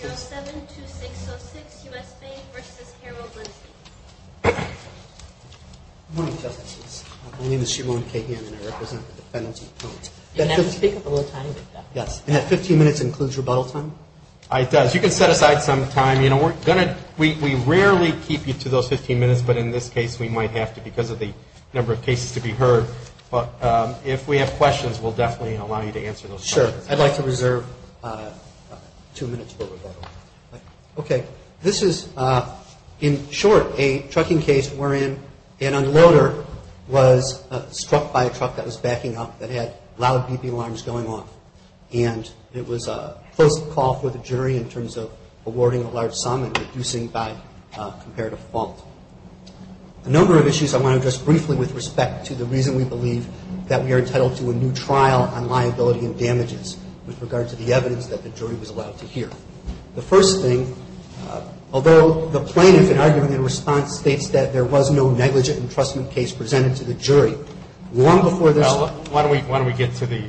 Good morning, Justices. My name is Shimon Cahan and I represent the Penalty Appointment. You may have to speak up a little tiny bit. Yes. And that 15 minutes includes rebuttal time? It does. You can set aside some time. You know, we rarely keep you to those 15 minutes, but in this case we might have to because of the number of cases to be heard. But if we have questions, we'll definitely allow you to answer those questions. Sure. I'd like to reserve two minutes for rebuttal. Okay. This is, in short, a trucking case wherein an unloader was struck by a truck that was backing up that had loud beeping alarms going off. And it was a close call for the jury in terms of awarding a large sum and reducing by comparative fault. A number of issues I want to address briefly with respect to the reason we believe that we are entitled to a new trial on liability and damages with regard to the evidence that the jury was allowed to hear. The first thing, although the plaintiff, in argument and response, states that there was no negligent entrustment case presented to the jury, long before there's Well, why don't we get to the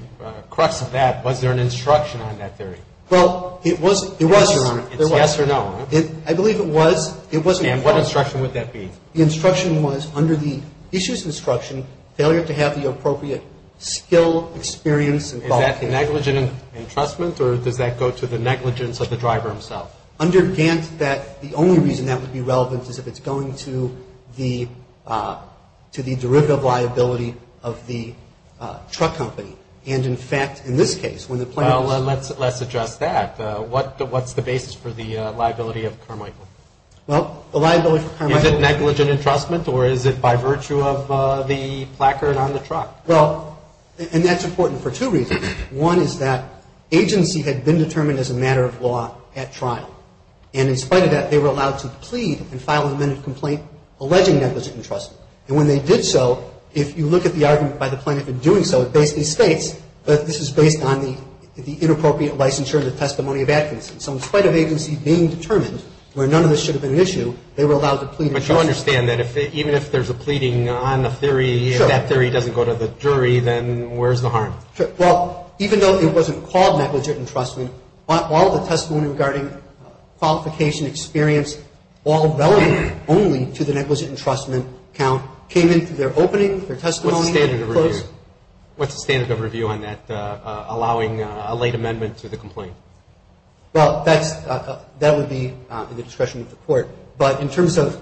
crux of that. Was there an instruction on that theory? Well, it was, Your Honor. It's yes or no, huh? I believe it was. It was in court. And what instruction would that be? The instruction was, under the issues instruction, failure to have the appropriate skill, experience, and quality. Is that the negligent entrustment, or does that go to the negligence of the driver himself? Under Gant, the only reason that would be relevant is if it's going to the derivative liability of the truck company. And, in fact, in this case, when the plaintiff Well, let's address that. What's the basis for the liability of Carmichael? Well, the liability of Carmichael Is it negligent entrustment, or is it by virtue of the placard on the truck? Well, and that's important for two reasons. One is that agency had been determined as a matter of law at trial, and in spite of that, they were allowed to plead and file an amended complaint alleging negligent entrustment. And when they did so, if you look at the argument by the plaintiff in doing so, it basically states that this is based on the inappropriate licensure and the testimony of Atkinson. So in spite of agency being determined, where none of this should have been an issue, they were allowed to plead. But you understand that even if there's a pleading on the theory, if that theory doesn't go to the jury, then where's the harm? Well, even though it wasn't called negligent entrustment, all the testimony regarding qualification experience, all relevant only to the negligent entrustment count, came in through their opening, their testimony. What's the standard of review on that, allowing a late amendment to the complaint? Well, that would be in the discretion of the court. But in terms of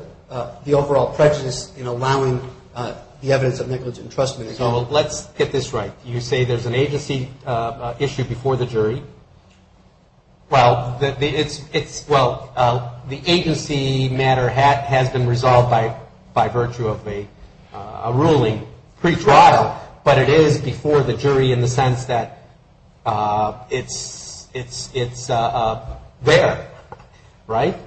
the overall prejudice in allowing the evidence of negligent entrustment. So let's get this right. You say there's an agency issue before the jury. Well, the agency matter has been resolved by virtue of a ruling pre-trial, but it is before the jury in the sense that it's there, right?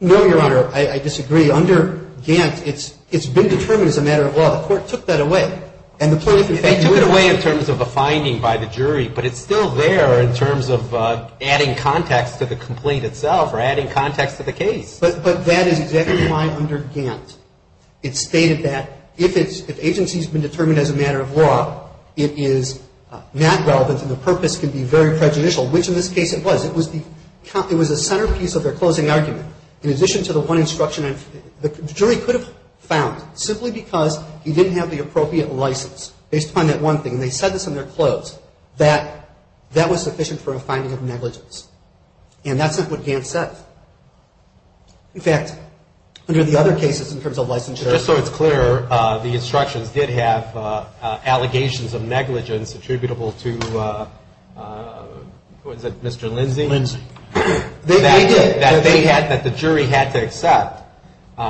No, Your Honor. I disagree. Under Gantt, it's been determined as a matter of law. The court took that away. And the plaintiff in fact. They took it away in terms of a finding by the jury, but it's still there in terms of adding context to the complaint itself or adding context to the case. But that is exactly why under Gantt it's stated that if agency has been determined as a matter of law, it is not relevant and the purpose can be very prejudicial, which in this case it was. It was the centerpiece of their closing argument. In addition to the one instruction, the jury could have found simply because he didn't have the appropriate license, based upon that one thing, and they said this in their close, that that was sufficient for a finding of negligence. And that's not what Gantt says. In fact, under the other cases in terms of licensure. Just so it's clear, the instructions did have allegations of negligence attributable to, what is it, Mr. Lindsey? Lindsey. They did. That they had, that the jury had to accept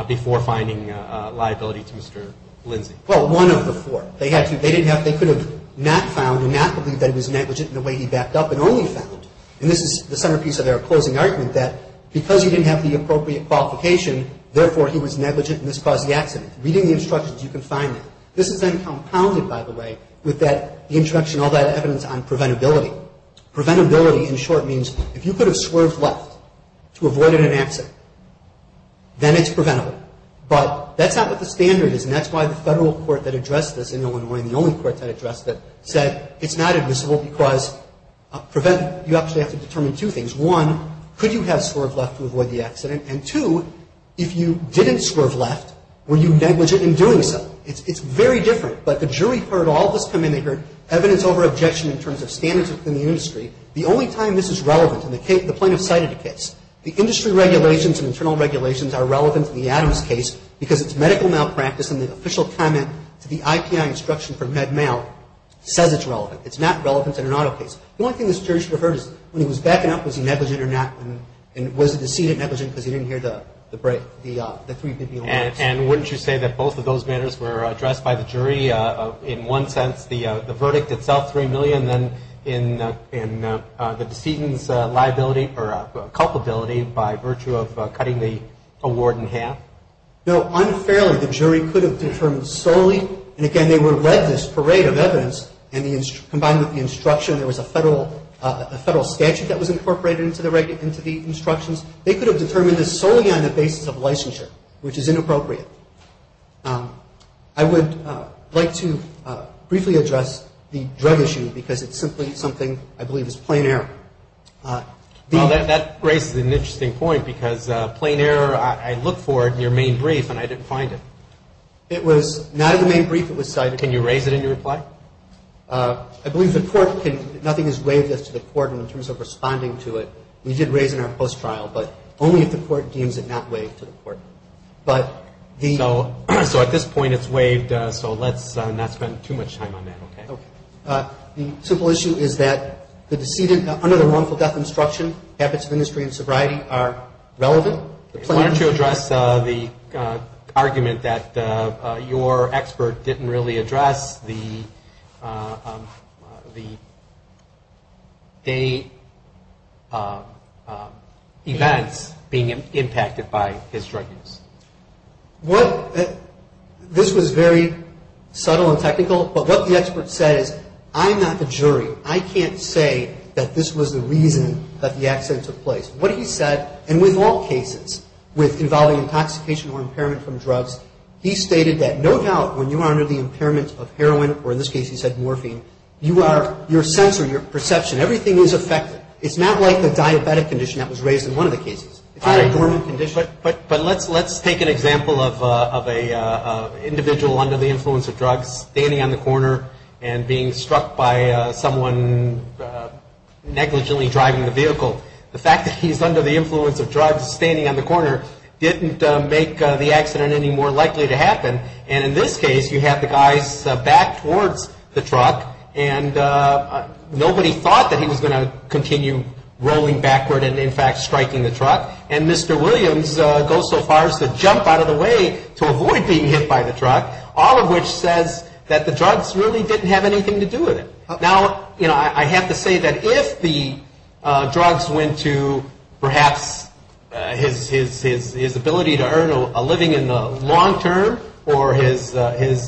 before finding liability to Mr. Lindsey. Well, one of the four. They had to. They didn't have. They could have not found and not believed that it was negligent in the way he backed up and only found. And this is the centerpiece of their closing argument, that because you didn't have the appropriate qualification, therefore, he was negligent and this caused the accident. Reading the instructions, you can find that. This is then compounded, by the way, with that, the introduction of all that evidence on preventability. Preventability, in short, means if you could have swerved left to avoid an accident, then it's preventable. But that's not what the standard is, and that's why the federal court that addressed this in Illinois, and the only court that addressed it, said it's not admissible because prevent, you actually have to determine two things. One, could you have swerved left to avoid the accident? And two, if you didn't swerve left, were you negligent in doing so? It's very different. But the jury heard all of this come in. They heard evidence over objection in terms of standards within the industry. The only time this is relevant, and the plaintiff cited a case, the industry regulations and internal regulations are relevant to the Adams case because it's medical malpractice and the official comment to the IPI instruction for Med-Mal says it's relevant. It's not relevant in an auto case. The only thing this jury should have heard is when he was backing up, was he negligent or not, and was the decedent negligent because he didn't hear the three opinion matters. And wouldn't you say that both of those matters were addressed by the jury in one sense, the verdict itself, 3 million, and then the decedent's liability or culpability by virtue of cutting the award in half? No. Unfairly, the jury could have determined solely, and again, they were led this parade of evidence, and combined with the instruction, there was a federal statute that was incorporated into the instructions. They could have determined this solely on the basis of licensure, which is inappropriate. I would like to briefly address the drug issue because it's simply something I believe is plain error. Well, that raises an interesting point because plain error, I looked for it in your main brief and I didn't find it. Can you raise it in your reply? I believe the court can, nothing is waived as to the court in terms of responding to it. We did raise it in our post-trial, but only if the court deems it not waived to the court. So at this point it's waived, so let's not spend too much time on that, okay? Okay. The simple issue is that the decedent, under the wrongful death instruction, habits of industry and sobriety are relevant. Why don't you address the argument that your expert didn't really address the day events being impacted by his drug use? This was very subtle and technical, but what the expert said is, I'm not the jury. I can't say that this was the reason that the accident took place. What he said, and with all cases involving intoxication or impairment from drugs, he stated that no doubt when you are under the impairment of heroin, or in this case he said morphine, your sense or your perception, everything is affected. It's not like the diabetic condition that was raised in one of the cases. But let's take an example of an individual under the influence of drugs standing on the corner and being struck by someone negligently driving the vehicle. The fact that he's under the influence of drugs standing on the corner didn't make the accident any more likely to happen. And in this case, you have the guy's back towards the truck, and nobody thought that he was going to continue rolling backward and, in fact, striking the truck. And Mr. Williams goes so far as to jump out of the way to avoid being hit by the truck, all of which says that the drugs really didn't have anything to do with it. Now, you know, I have to say that if the drugs went to perhaps his ability to earn a living in the long term or his life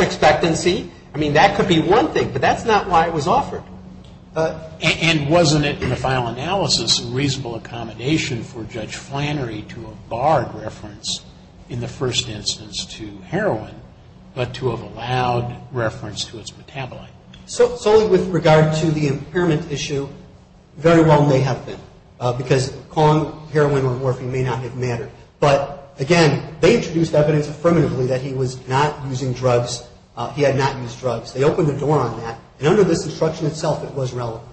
expectancy, I mean, that could be one thing, but that's not why it was offered. And wasn't it, in the final analysis, a reasonable accommodation for Judge Flannery to have barred reference, in the first instance, to heroin, but to have allowed reference to its metabolite? So solely with regard to the impairment issue, very well may have been, because calling heroin or morphine may not have mattered. But, again, they introduced evidence affirmatively that he was not using drugs. He had not used drugs. They opened the door on that, and under this instruction itself, it was relevant.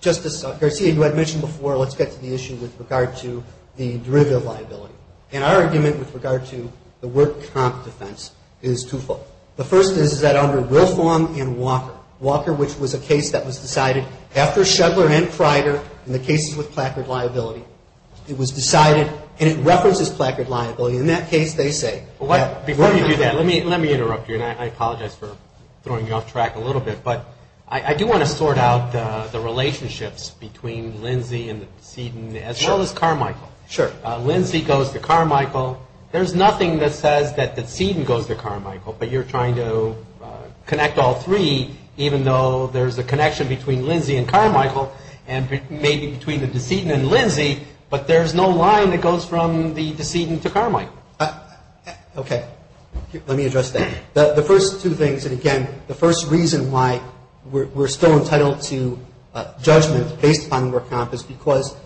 Justice Garcia, you had mentioned before, let's get to the issue with regard to the derivative liability. And our argument with regard to the work comp defense is twofold. The first is that under Wilform and Walker, Walker, which was a case that was decided after Shugler and Pryder in the cases with placard liability, it was decided, and it references placard liability. In that case, they say that... Before you do that, let me interrupt you, and I apologize for throwing you off track a little bit. But I do want to sort out the relationships between Lindsay and the decedent, as well as Carmichael. Sure. Lindsay goes to Carmichael. There's nothing that says that the decedent goes to Carmichael, but you're trying to connect all three, even though there's a connection between Lindsay and Carmichael, and maybe between the decedent and Lindsay, but there's no line that goes from the decedent to Carmichael. Okay. Let me address that. The first two things, and again, the first reason why we're still entitled to judgment based upon the work comp is because,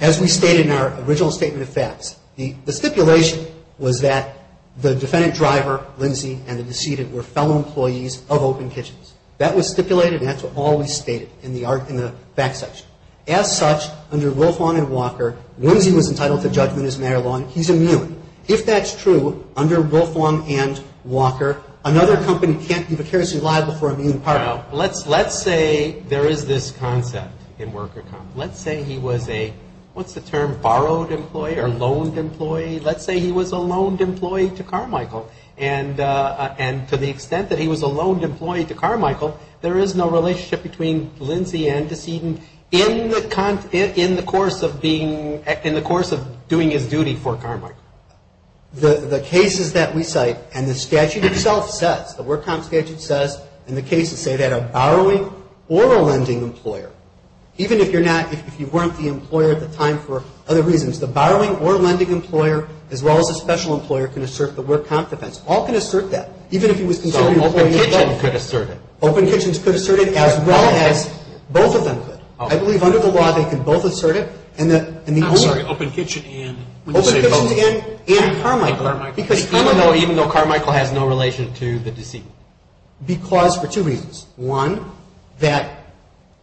as we stated in our original statement of facts, the stipulation was that the defendant driver, Lindsay, and the decedent were fellow employees of Open Kitchens. That was stipulated, and that's what all we stated in the fact section. As such, under Wilform and Walker, Lindsay was entitled to judgment as a matter of law, and he's immune. If that's true, under Wilform and Walker, another company can't be vicariously liable for a immune part. Now, let's say there is this concept in work comp. Let's say he was a, what's the term, borrowed employee or loaned employee? Let's say he was a loaned employee to Carmichael, and to the extent that he was a loaned employee to Carmichael, there is no relationship between Lindsay and decedent in the course of being, in the course of doing his duty for Carmichael. The cases that we cite, and the statute itself says, the work comp statute says, and the cases say that a borrowing or a lending employer, even if you're not, if you weren't the employer at the time for other reasons, the borrowing or lending employer, as well as the special employer, can assert the work comp defense. All can assert that. Even if he was considered an employee of Open Kitchens. All of them could assert it. Open Kitchens could assert it, as well as both of them could. I believe under the law, they can both assert it, and the owner. I'm sorry, Open Kitchen and? Open Kitchens and Carmichael. Even though Carmichael has no relation to the decedent. Because for two reasons. One, that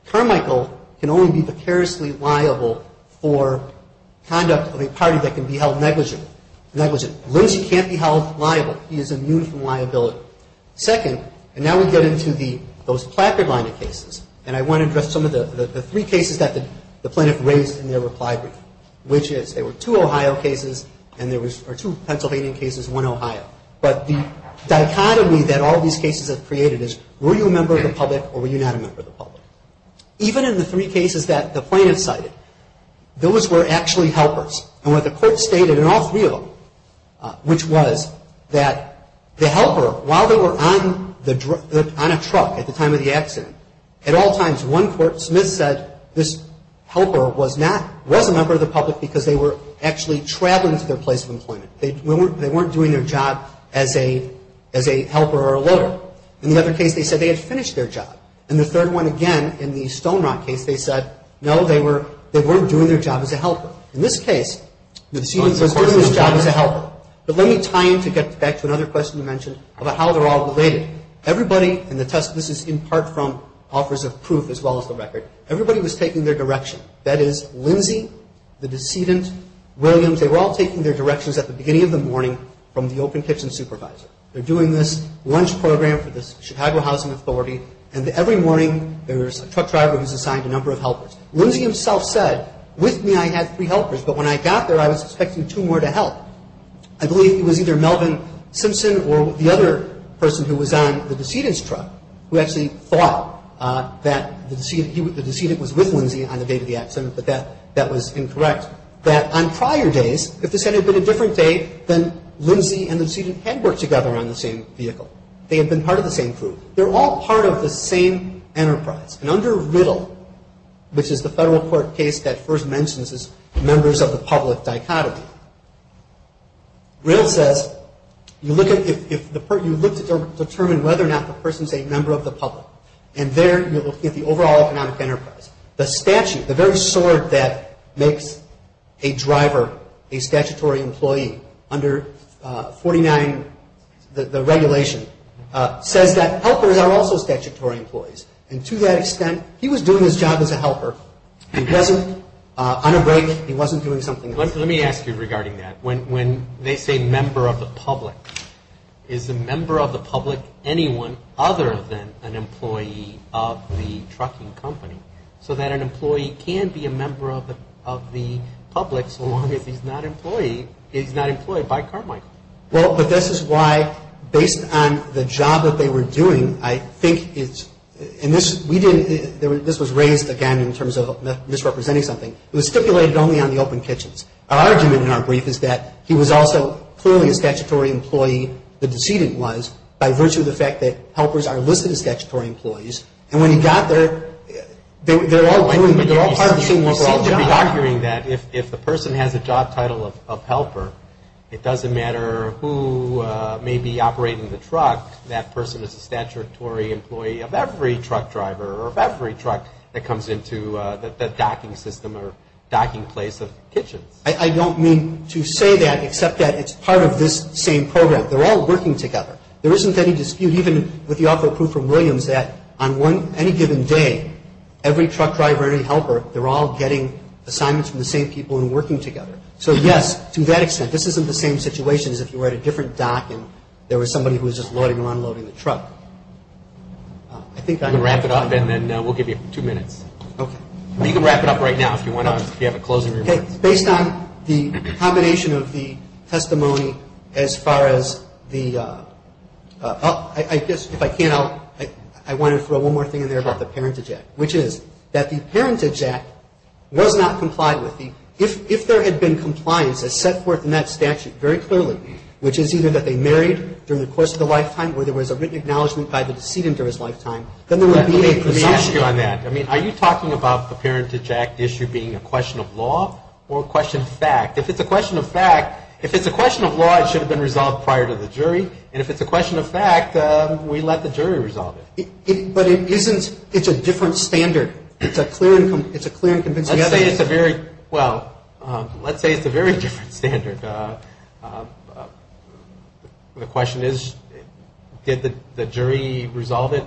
Carmichael can only be vicariously liable for conduct of a party that can be held negligent. Lindsay can't be held liable. He is immune from liability. Second, and now we get into those placard line of cases, and I want to address some of the three cases that the plaintiff raised in their reply brief. Which is, there were two Ohio cases, or two Pennsylvania cases, one Ohio. But the dichotomy that all these cases have created is, were you a member of the public, or were you not a member of the public? Even in the three cases that the plaintiff cited, those were actually helpers. And what the court stated in all three of them, which was that the helper, while they were on a truck at the time of the accident, at all times, one court, Smith said this helper was a member of the public because they were actually traveling to their place of employment. They weren't doing their job as a helper or a loader. In the other case, they said they had finished their job. And the third one, again, in the Stone Rock case, they said, no, they weren't doing their job as a helper. In this case, the decedent was doing his job as a helper. But let me tie in to get back to another question you mentioned about how they're all related. Everybody in the test, this is in part from offers of proof as well as the record, everybody was taking their direction. That is, Lindsay, the decedent, Williams, they were all taking their directions at the beginning of the morning from the open kitchen supervisor. They're doing this lunch program for the Chicago Housing Authority, and every morning there's a truck driver who's assigned a number of helpers. Lindsay himself said, with me I had three helpers, but when I got there I was expecting two more to help. I believe it was either Melvin Simpson or the other person who was on the decedent's truck who actually thought that the decedent was with Lindsay on the date of the accident, but that was incorrect, that on prior days, if this had been a different day, then Lindsay and the decedent had worked together on the same vehicle. They had been part of the same crew. They're all part of the same enterprise. And under RIDDLE, which is the federal court case that first mentions members of the public dichotomy, RIDDLE says you look to determine whether or not the person is a member of the public, and there you look at the overall economic enterprise. The statute, the very sword that makes a driver a statutory employee under 49, the regulation, says that helpers are also statutory employees. And to that extent, he was doing his job as a helper. He wasn't on a break. He wasn't doing something else. Let me ask you regarding that. When they say member of the public, is a member of the public anyone other than an employee of the trucking company so that an employee can be a member of the public so long as he's not employed by Carmichael? Well, but this is why, based on the job that they were doing, I think it's, and this, we didn't, this was raised, again, in terms of misrepresenting something. It was stipulated only on the open kitchens. Our argument in our brief is that he was also clearly a statutory employee, the decedent was, by virtue of the fact that helpers are listed as statutory employees. And when he got there, they're all doing, they're all part of the same overall job. I'm hearing that if the person has a job title of helper, it doesn't matter who may be operating the truck, that person is a statutory employee of every truck driver or of every truck that comes into the docking system or docking place of kitchens. I don't mean to say that except that it's part of this same program. They're all working together. There isn't any dispute, even with the offer approved from Williams, that on any given day, every truck driver or any helper, they're all getting assignments from the same people and working together. So, yes, to that extent, this isn't the same situation as if you were at a different dock and there was somebody who was just loading and unloading the truck. I think I'm going to wrap it up. You can wrap it up and then we'll give you two minutes. Okay. You can wrap it up right now if you want to, if you have a closing remark. Okay. Based on the combination of the testimony as far as the, I guess if I can, I wanted to throw one more thing in there about the Parentage Act, which is that the Parentage Act was not complied with. If there had been compliance as set forth in that statute very clearly, which is either that they married during the course of their lifetime or there was a written acknowledgment by the decedent during his lifetime, then there would be a presumption. Let me ask you on that. I mean, are you talking about the Parentage Act issue being a question of law or a question of fact? If it's a question of fact, if it's a question of law, it should have been resolved prior to the jury. And if it's a question of fact, we let the jury resolve it. But it isn't, it's a different standard. It's a clear and convincing evidence. Let's say it's a very, well, let's say it's a very different standard. The question is, did the jury resolve it?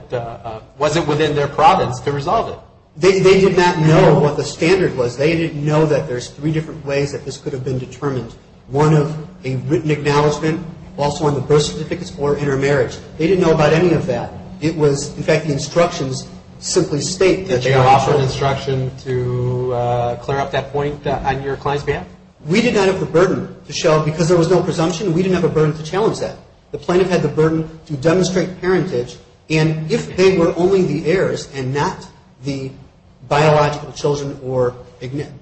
Was it within their province to resolve it? They did not know what the standard was. They didn't know that there's three different ways that this could have been determined. One of a written acknowledgment, also on the birth certificates, or intermarriage. They didn't know about any of that. It was, in fact, the instructions simply state that you are eligible. Did they offer an instruction to clear up that point on your client's behalf? We did not have the burden to show, because there was no presumption, we didn't have a burden to challenge that. The plaintiff had the burden to demonstrate parentage. And if they were only the heirs and not the biological children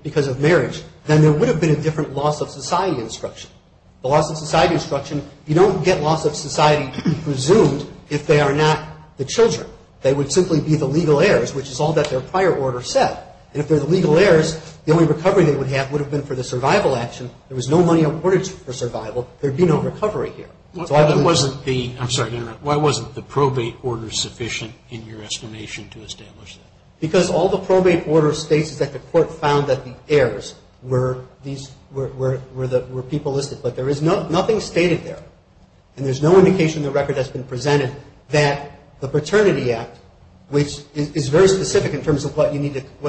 because of marriage, then there would have been a different loss-of-society instruction. The loss-of-society instruction, you don't get loss-of-society presumed if they are not the children. They would simply be the legal heirs, which is all that their prior order said. And if they're the legal heirs, the only recovery they would have would have been for the survival action. There was no money awarded for survival. There would be no recovery here. So I believe that's true. I'm sorry to interrupt. Why wasn't the probate order sufficient in your estimation to establish that? Because all the probate order states is that the court found that the heirs were people listed. But there is nothing stated there. And there's no indication in the record that's been presented that the Paternity Act, which is very specific in terms of what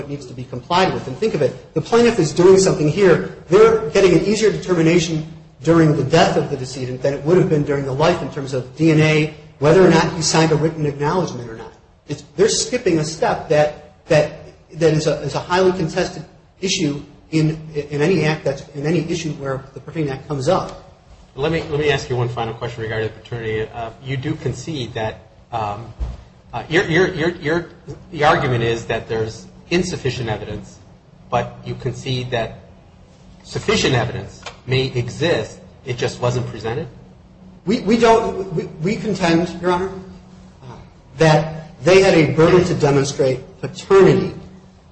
needs to be complied with. And think of it. The plaintiff is doing something here. They're getting an easier determination during the death of the decedent than it would have been during the life in terms of DNA, whether or not you signed a written acknowledgement or not. They're skipping a step that is a highly contested issue in any act that's in any issue where the Paternity Act comes up. Let me ask you one final question regarding paternity. You do concede that your argument is that there's insufficient evidence, but you concede that sufficient evidence may exist, it just wasn't presented? We don't. We contend, Your Honor, that they had a burden to demonstrate paternity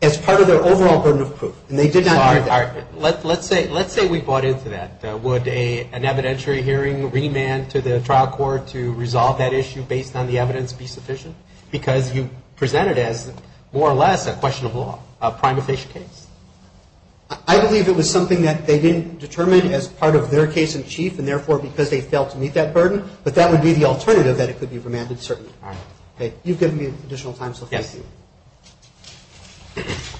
as part of their overall burden of proof. And they did not do that. Let's say we bought into that. Would an evidentiary hearing remand to the trial court to resolve that issue based on the evidence be sufficient? Because you present it as more or less a question of law, a prime official case. I believe it was something that they didn't determine as part of their case in chief, and therefore because they failed to meet that burden. But that would be the alternative, that it could be remanded certainly. You've given me additional time, so thank you. Yes.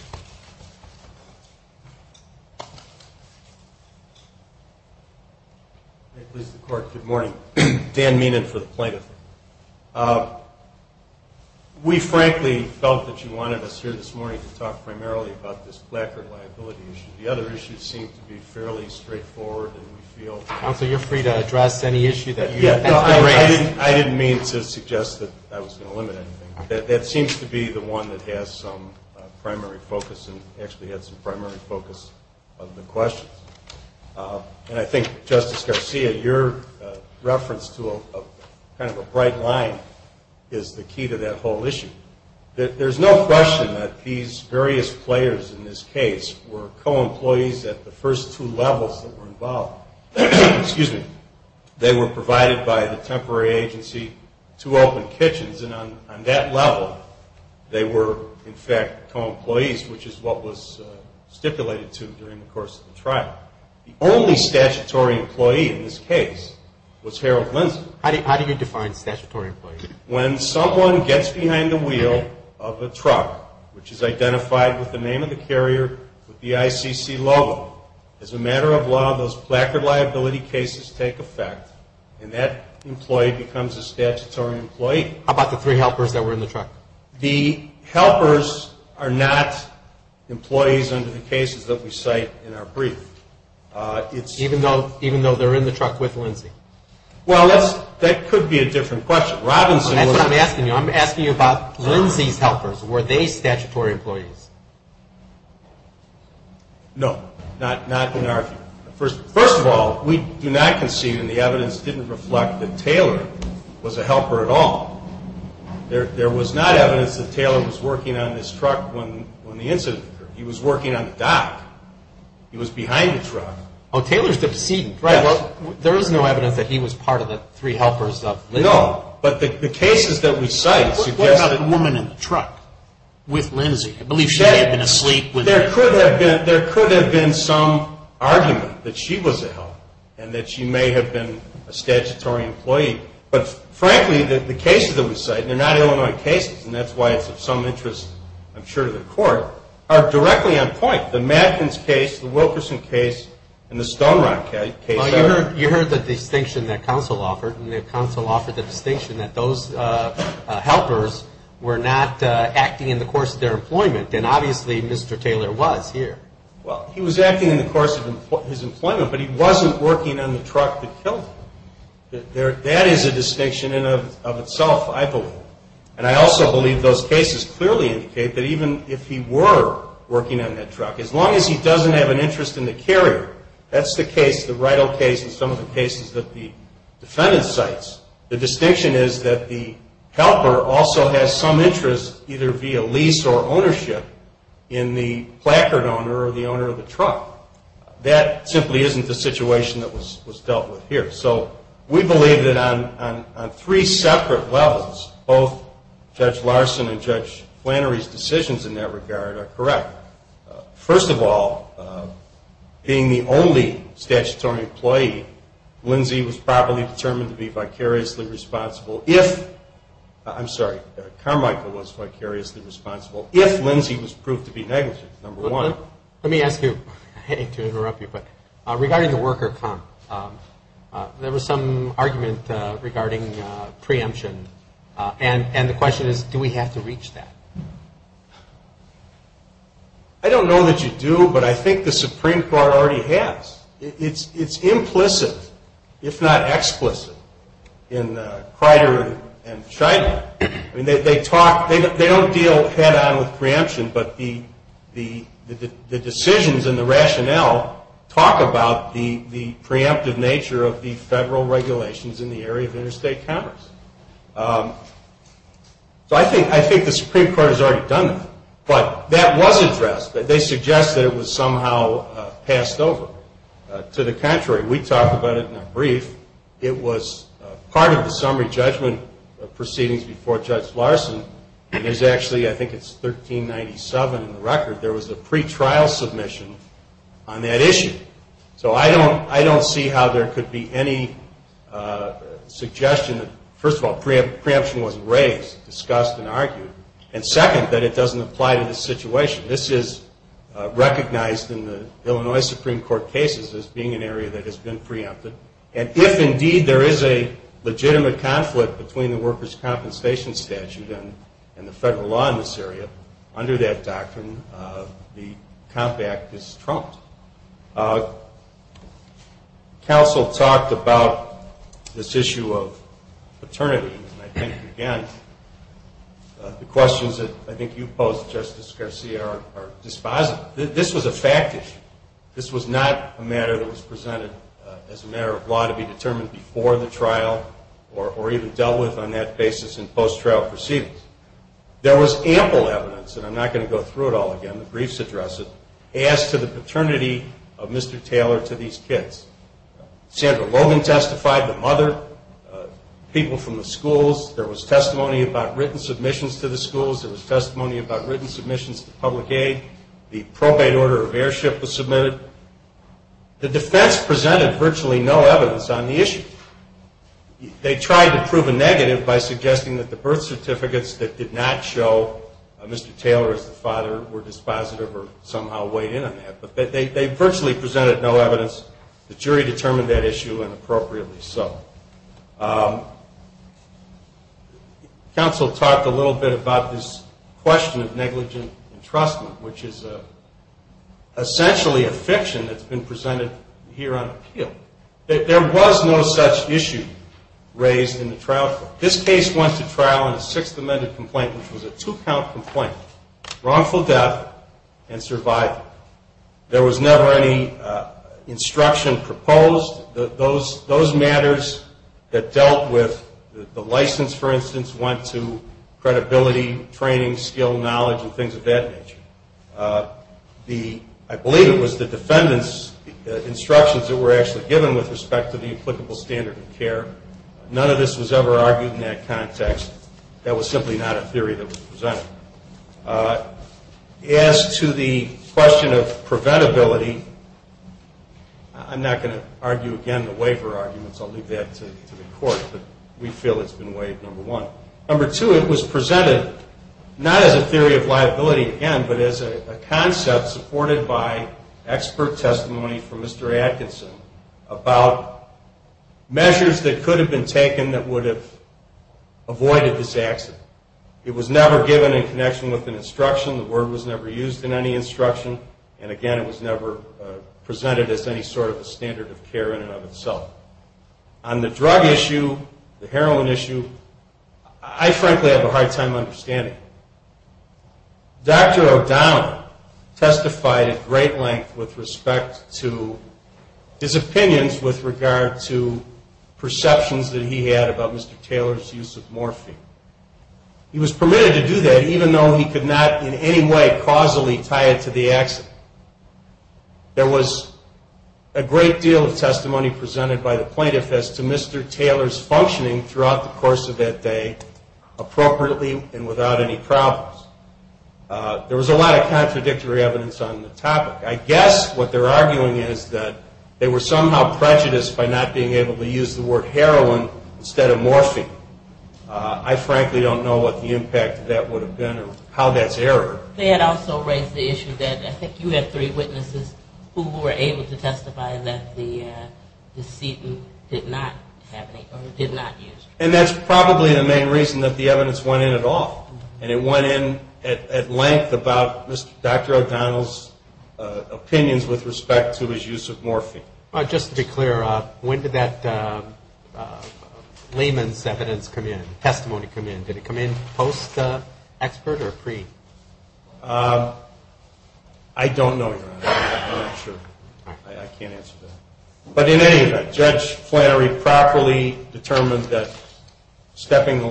Good morning. Dan Meenan for the plaintiff. We frankly felt that you wanted us here this morning to talk primarily about this placard liability issue. The other issues seem to be fairly straightforward. Counsel, you're free to address any issue that you have. I didn't mean to suggest that I was going to limit anything. That seems to be the one that has some primary focus and actually had some primary focus of the questions. And I think, Justice Garcia, your reference to kind of a bright line is the key to that whole issue. There's no question that these various players in this case were co-employees at the first two levels that were involved. Excuse me. They were provided by the temporary agency to open kitchens, and on that level they were, in fact, co-employees, which is what was stipulated to them during the course of the trial. The only statutory employee in this case was Harold Lindsay. How do you define statutory employee? When someone gets behind the wheel of a truck, which is identified with the name of the carrier, with the ICC logo, as a matter of law, those placard liability cases take effect and that employee becomes a statutory employee. How about the three helpers that were in the truck? The helpers are not employees under the cases that we cite in our brief. Even though they're in the truck with Lindsay? Well, that could be a different question. That's what I'm asking you. I'm asking you about Lindsay's helpers. Were they statutory employees? No, not in our view. First of all, we do not concede, and the evidence didn't reflect that Taylor was a helper at all. There was not evidence that Taylor was working on this truck when the incident occurred. He was working on the dock. He was behind the truck. Oh, Taylor's the decedent, right. Well, there is no evidence that he was part of the three helpers of Lindsay. No, but the cases that we cite suggest that... What about the woman in the truck with Lindsay? I believe she may have been asleep when... There could have been some argument that she was a helper and that she may have been a statutory employee. But, frankly, the cases that we cite, and they're not Illinois cases, and that's why it's of some interest, I'm sure, to the court, are directly on point. The Matkins case, the Wilkerson case, and the Stonerock case... Well, you heard the distinction that counsel offered, and counsel offered the distinction that those helpers were not acting in the course of their employment, and obviously Mr. Taylor was here. Well, he was acting in the course of his employment, but he wasn't working on the truck that killed him. That is a distinction in and of itself, I believe. And I also believe those cases clearly indicate that even if he were working on that truck, as long as he doesn't have an interest in the carrier, that's the case, the Rytle case and some of the cases that the defendant cites, the distinction is that the helper also has some interest either via lease or ownership in the placard owner or the owner of the truck. That simply isn't the situation that was dealt with here. So we believe that on three separate levels, both Judge Larson and Judge Flannery's decisions in that regard are correct. First of all, being the only statutory employee, Lindsay was probably determined to be vicariously responsible if... I'm sorry, Carmichael was vicariously responsible if Lindsay was proved to be negligent, number one. Let me ask you, to interrupt you, but regarding the worker comp, there was some argument regarding preemption, and the question is, do we have to reach that? I don't know that you do, but I think the Supreme Court already has. It's implicit, if not explicit, in Crider and Scheinman. They don't deal head-on with preemption, but the decisions and the rationale talk about the preemptive nature of the federal regulations in the area of interstate commerce. So I think the Supreme Court has already done that. But that was addressed. They suggest that it was somehow passed over. To the contrary, we talked about it in a brief. It was part of the summary judgment proceedings before Judge Larson. It is actually, I think it's 1397 in the record. There was a pretrial submission on that issue. So I don't see how there could be any suggestion. First of all, preemption wasn't raised, discussed, and argued. And second, that it doesn't apply to this situation. This is recognized in the Illinois Supreme Court cases as being an area that has been preempted. And if, indeed, there is a legitimate conflict between the workers' compensation statute and the federal law in this area, under that doctrine, the comp act is trumped. Counsel talked about this issue of paternity. And I think, again, the questions that I think you posed, Justice Garcia, are dispositive. This was a fact issue. This was not a matter that was presented as a matter of law to be determined before the trial or even dealt with on that basis in post-trial proceedings. There was ample evidence, and I'm not going to go through it all again. The briefs address it. Asked to the paternity of Mr. Taylor to these kids. Sandra Logan testified, the mother, people from the schools. There was testimony about written submissions to the schools. There was testimony about written submissions to public aid. The probate order of airship was submitted. The defense presented virtually no evidence on the issue. They tried to prove a negative by suggesting that the birth certificates that did not show Mr. Taylor as the father were dispositive or somehow weighed in on that. But they virtually presented no evidence. The jury determined that issue and appropriately so. Counsel talked a little bit about this question of negligent entrustment, which is essentially a fiction that's been presented here on appeal. There was no such issue raised in the trial court. This case went to trial in a Sixth Amendment complaint, which was a two-count complaint, wrongful death and survival. There was never any instruction proposed. Those matters that dealt with the license, for instance, went to credibility, training, skill, knowledge, and things of that nature. I believe it was the defendant's instructions that were actually given with respect to the applicable standard of care. None of this was ever argued in that context. That was simply not a theory that was presented. As to the question of preventability, I'm not going to argue again the waiver arguments. I'll leave that to the court. But we feel it's been waived, number one. Number two, it was presented not as a theory of liability again, but as a concept supported by expert testimony from Mr. Atkinson about measures that could have been taken that would have avoided this accident. It was never given in connection with an instruction. The word was never used in any instruction. And again, it was never presented as any sort of a standard of care in and of itself. On the drug issue, the heroin issue, I frankly have a hard time understanding. Dr. O'Donnell testified at great length with respect to his opinions with regard to perceptions that he had about Mr. Taylor's use of morphine. He was permitted to do that even though he could not in any way causally tie it to the accident. There was a great deal of testimony presented by the plaintiff as to Mr. Taylor's functioning throughout the course of that day appropriately and without any problems. There was a lot of contradictory evidence on the topic. I guess what they're arguing is that they were somehow prejudiced by not being able to use the word heroin instead of morphine. I frankly don't know what the impact of that would have been or how that's errored. They had also raised the issue that I think you had three witnesses who were able to testify that the sedent did not use. And that's probably the main reason that the evidence went in at all, and it went in at length about Dr. O'Donnell's opinions with respect to his use of morphine. Just to be clear, when did that layman's evidence come in, testimony come in? Did it come in post-expert or pre? I don't know, Your Honor. I'm not sure. I can't answer that. But in any event, Judge Flannery properly determined that stepping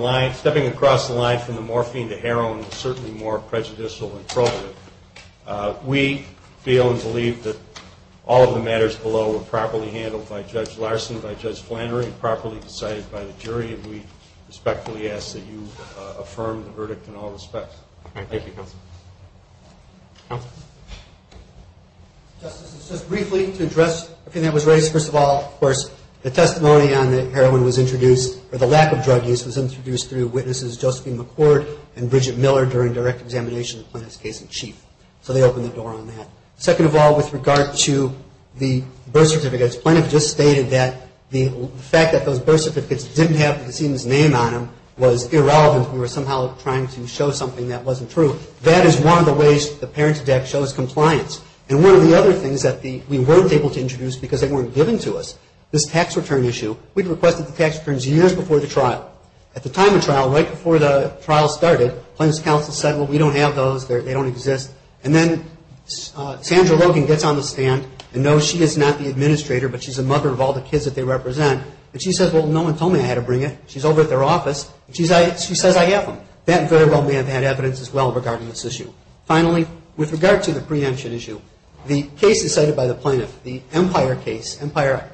across the line from the morphine to heroin was certainly more prejudicial and probative. We feel and believe that all of the matters below were properly handled by Judge Larson, by Judge Flannery, properly decided by the jury, and we respectfully ask that you affirm the verdict in all respects. Thank you, Counsel. Counsel. Justice, just briefly to address everything that was raised. First of all, of course, the testimony on that heroin was introduced or the lack of drug use was introduced through witnesses Josephine McCord and Bridget Miller during direct examination of Plaintiff's case in chief. So they opened the door on that. Second of all, with regard to the birth certificates, Plaintiff just stated that the fact that those birth certificates didn't have the decedent's name on them was irrelevant. We were somehow trying to show something that wasn't true. That is one of the ways the Parents Act shows compliance. And one of the other things that we weren't able to introduce because they weren't given to us, this tax return issue, we requested the tax returns years before the trial. At the time of trial, right before the trial started, Plaintiff's counsel said, well, we don't have those. They don't exist. And then Sandra Logan gets on the stand, and no, she is not the administrator, but she's the mother of all the kids that they represent. And she says, well, no one told me I had to bring it. She's over at their office. She says, I have them. That very well may have had evidence as well regarding this issue. Finally, with regard to the preemption issue, the case is cited by the Plaintiff. The Empire case, Empire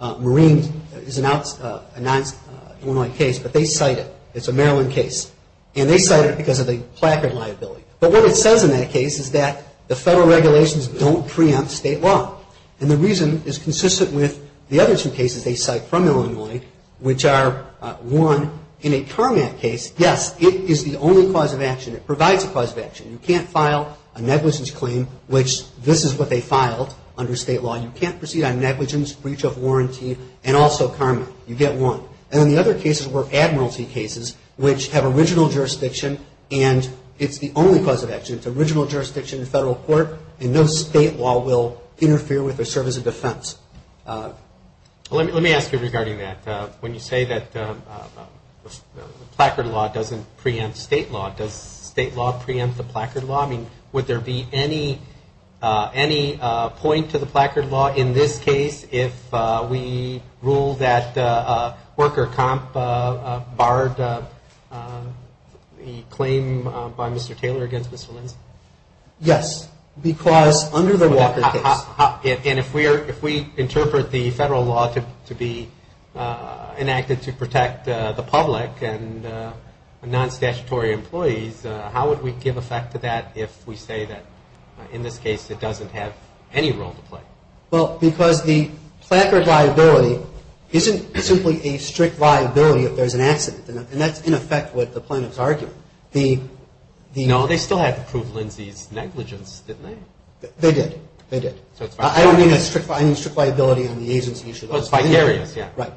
Marine is a non-illinois case, but they cite it. It's a Maryland case. And they cite it because of the placard liability. But what it says in that case is that the federal regulations don't preempt state law. And the reason is consistent with the other two cases they cite from Illinois, which are, one, in a CARMAT case, yes, it is the only cause of action. It provides a cause of action. You can't file a negligence claim, which this is what they filed under state law. You can't proceed on negligence, breach of warranty, and also CARMAT. You get one. And then the other cases were admiralty cases, which have original jurisdiction, and it's the only cause of action. It's original jurisdiction in federal court, and no state law will interfere with or serve as a defense. Let me ask you regarding that. When you say that placard law doesn't preempt state law, does state law preempt the placard law? I mean, would there be any point to the placard law in this case if we rule that worker comp barred the claim by Mr. Taylor against Mr. Linz? Yes, because under the Walker case. And if we interpret the federal law to be enacted to protect the public and non-statutory employees, how would we give effect to that if we say that in this case it doesn't have any role to play? Well, because the placard liability isn't simply a strict liability if there's an accident. And that's, in effect, what the plaintiffs argue. No, they still have to prove Linz's negligence, didn't they? They did. They did. I don't mean a strict liability on the agency. It's vicarious. Right.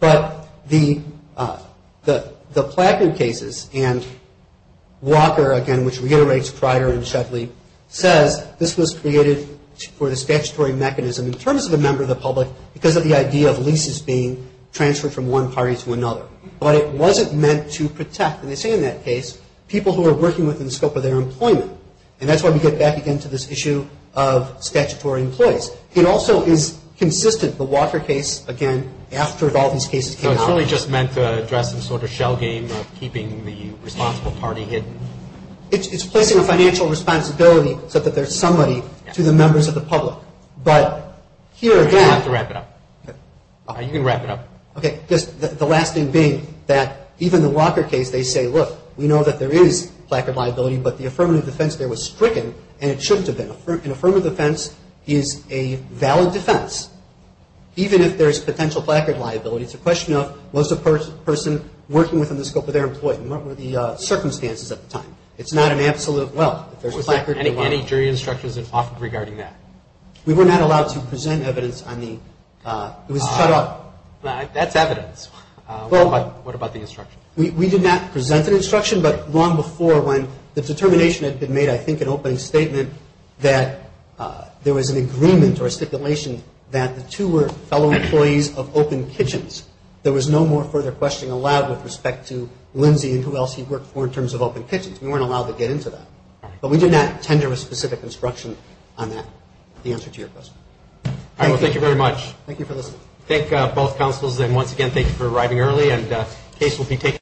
But the placard cases and Walker, again, which reiterates Crider and Shetley, says this was created for the statutory mechanism in terms of the member of the public because of the idea of leases being transferred from one party to another. But it wasn't meant to protect, and they say in that case, people who are working within the scope of their employment. And that's why we get back again to this issue of statutory employees. It also is consistent, the Walker case, again, after all these cases came out. So it's really just meant to address some sort of shell game of keeping the responsible party hidden? It's placing a financial responsibility so that there's somebody to the members of the public. But here again. You don't have to wrap it up. You can wrap it up. Okay. Just the last thing being that even the Walker case, they say, look, we know that there is placard liability, but the affirmative defense there was stricken, and it shouldn't have been. An affirmative defense is a valid defense, even if there is potential placard liability. It's a question of was the person working within the scope of their employment? What were the circumstances at the time? It's not an absolute, well, if there's a placard. Any jury instructions regarding that? We were not allowed to present evidence on the, it was shut up. That's evidence. Well. What about the instruction? We did not present an instruction, but long before when the determination had been made, I think an opening statement that there was an agreement or a stipulation that the two were fellow employees of Open Kitchens. There was no more further questioning allowed with respect to Lindsay and who else he worked for in terms of Open Kitchens. We weren't allowed to get into that. All right. But we did not tender a specific instruction on that. The answer to your question. All right. Well, thank you very much. Thank you for listening. Thank both counsels. And once again, thank you for arriving early. And the case will be taken.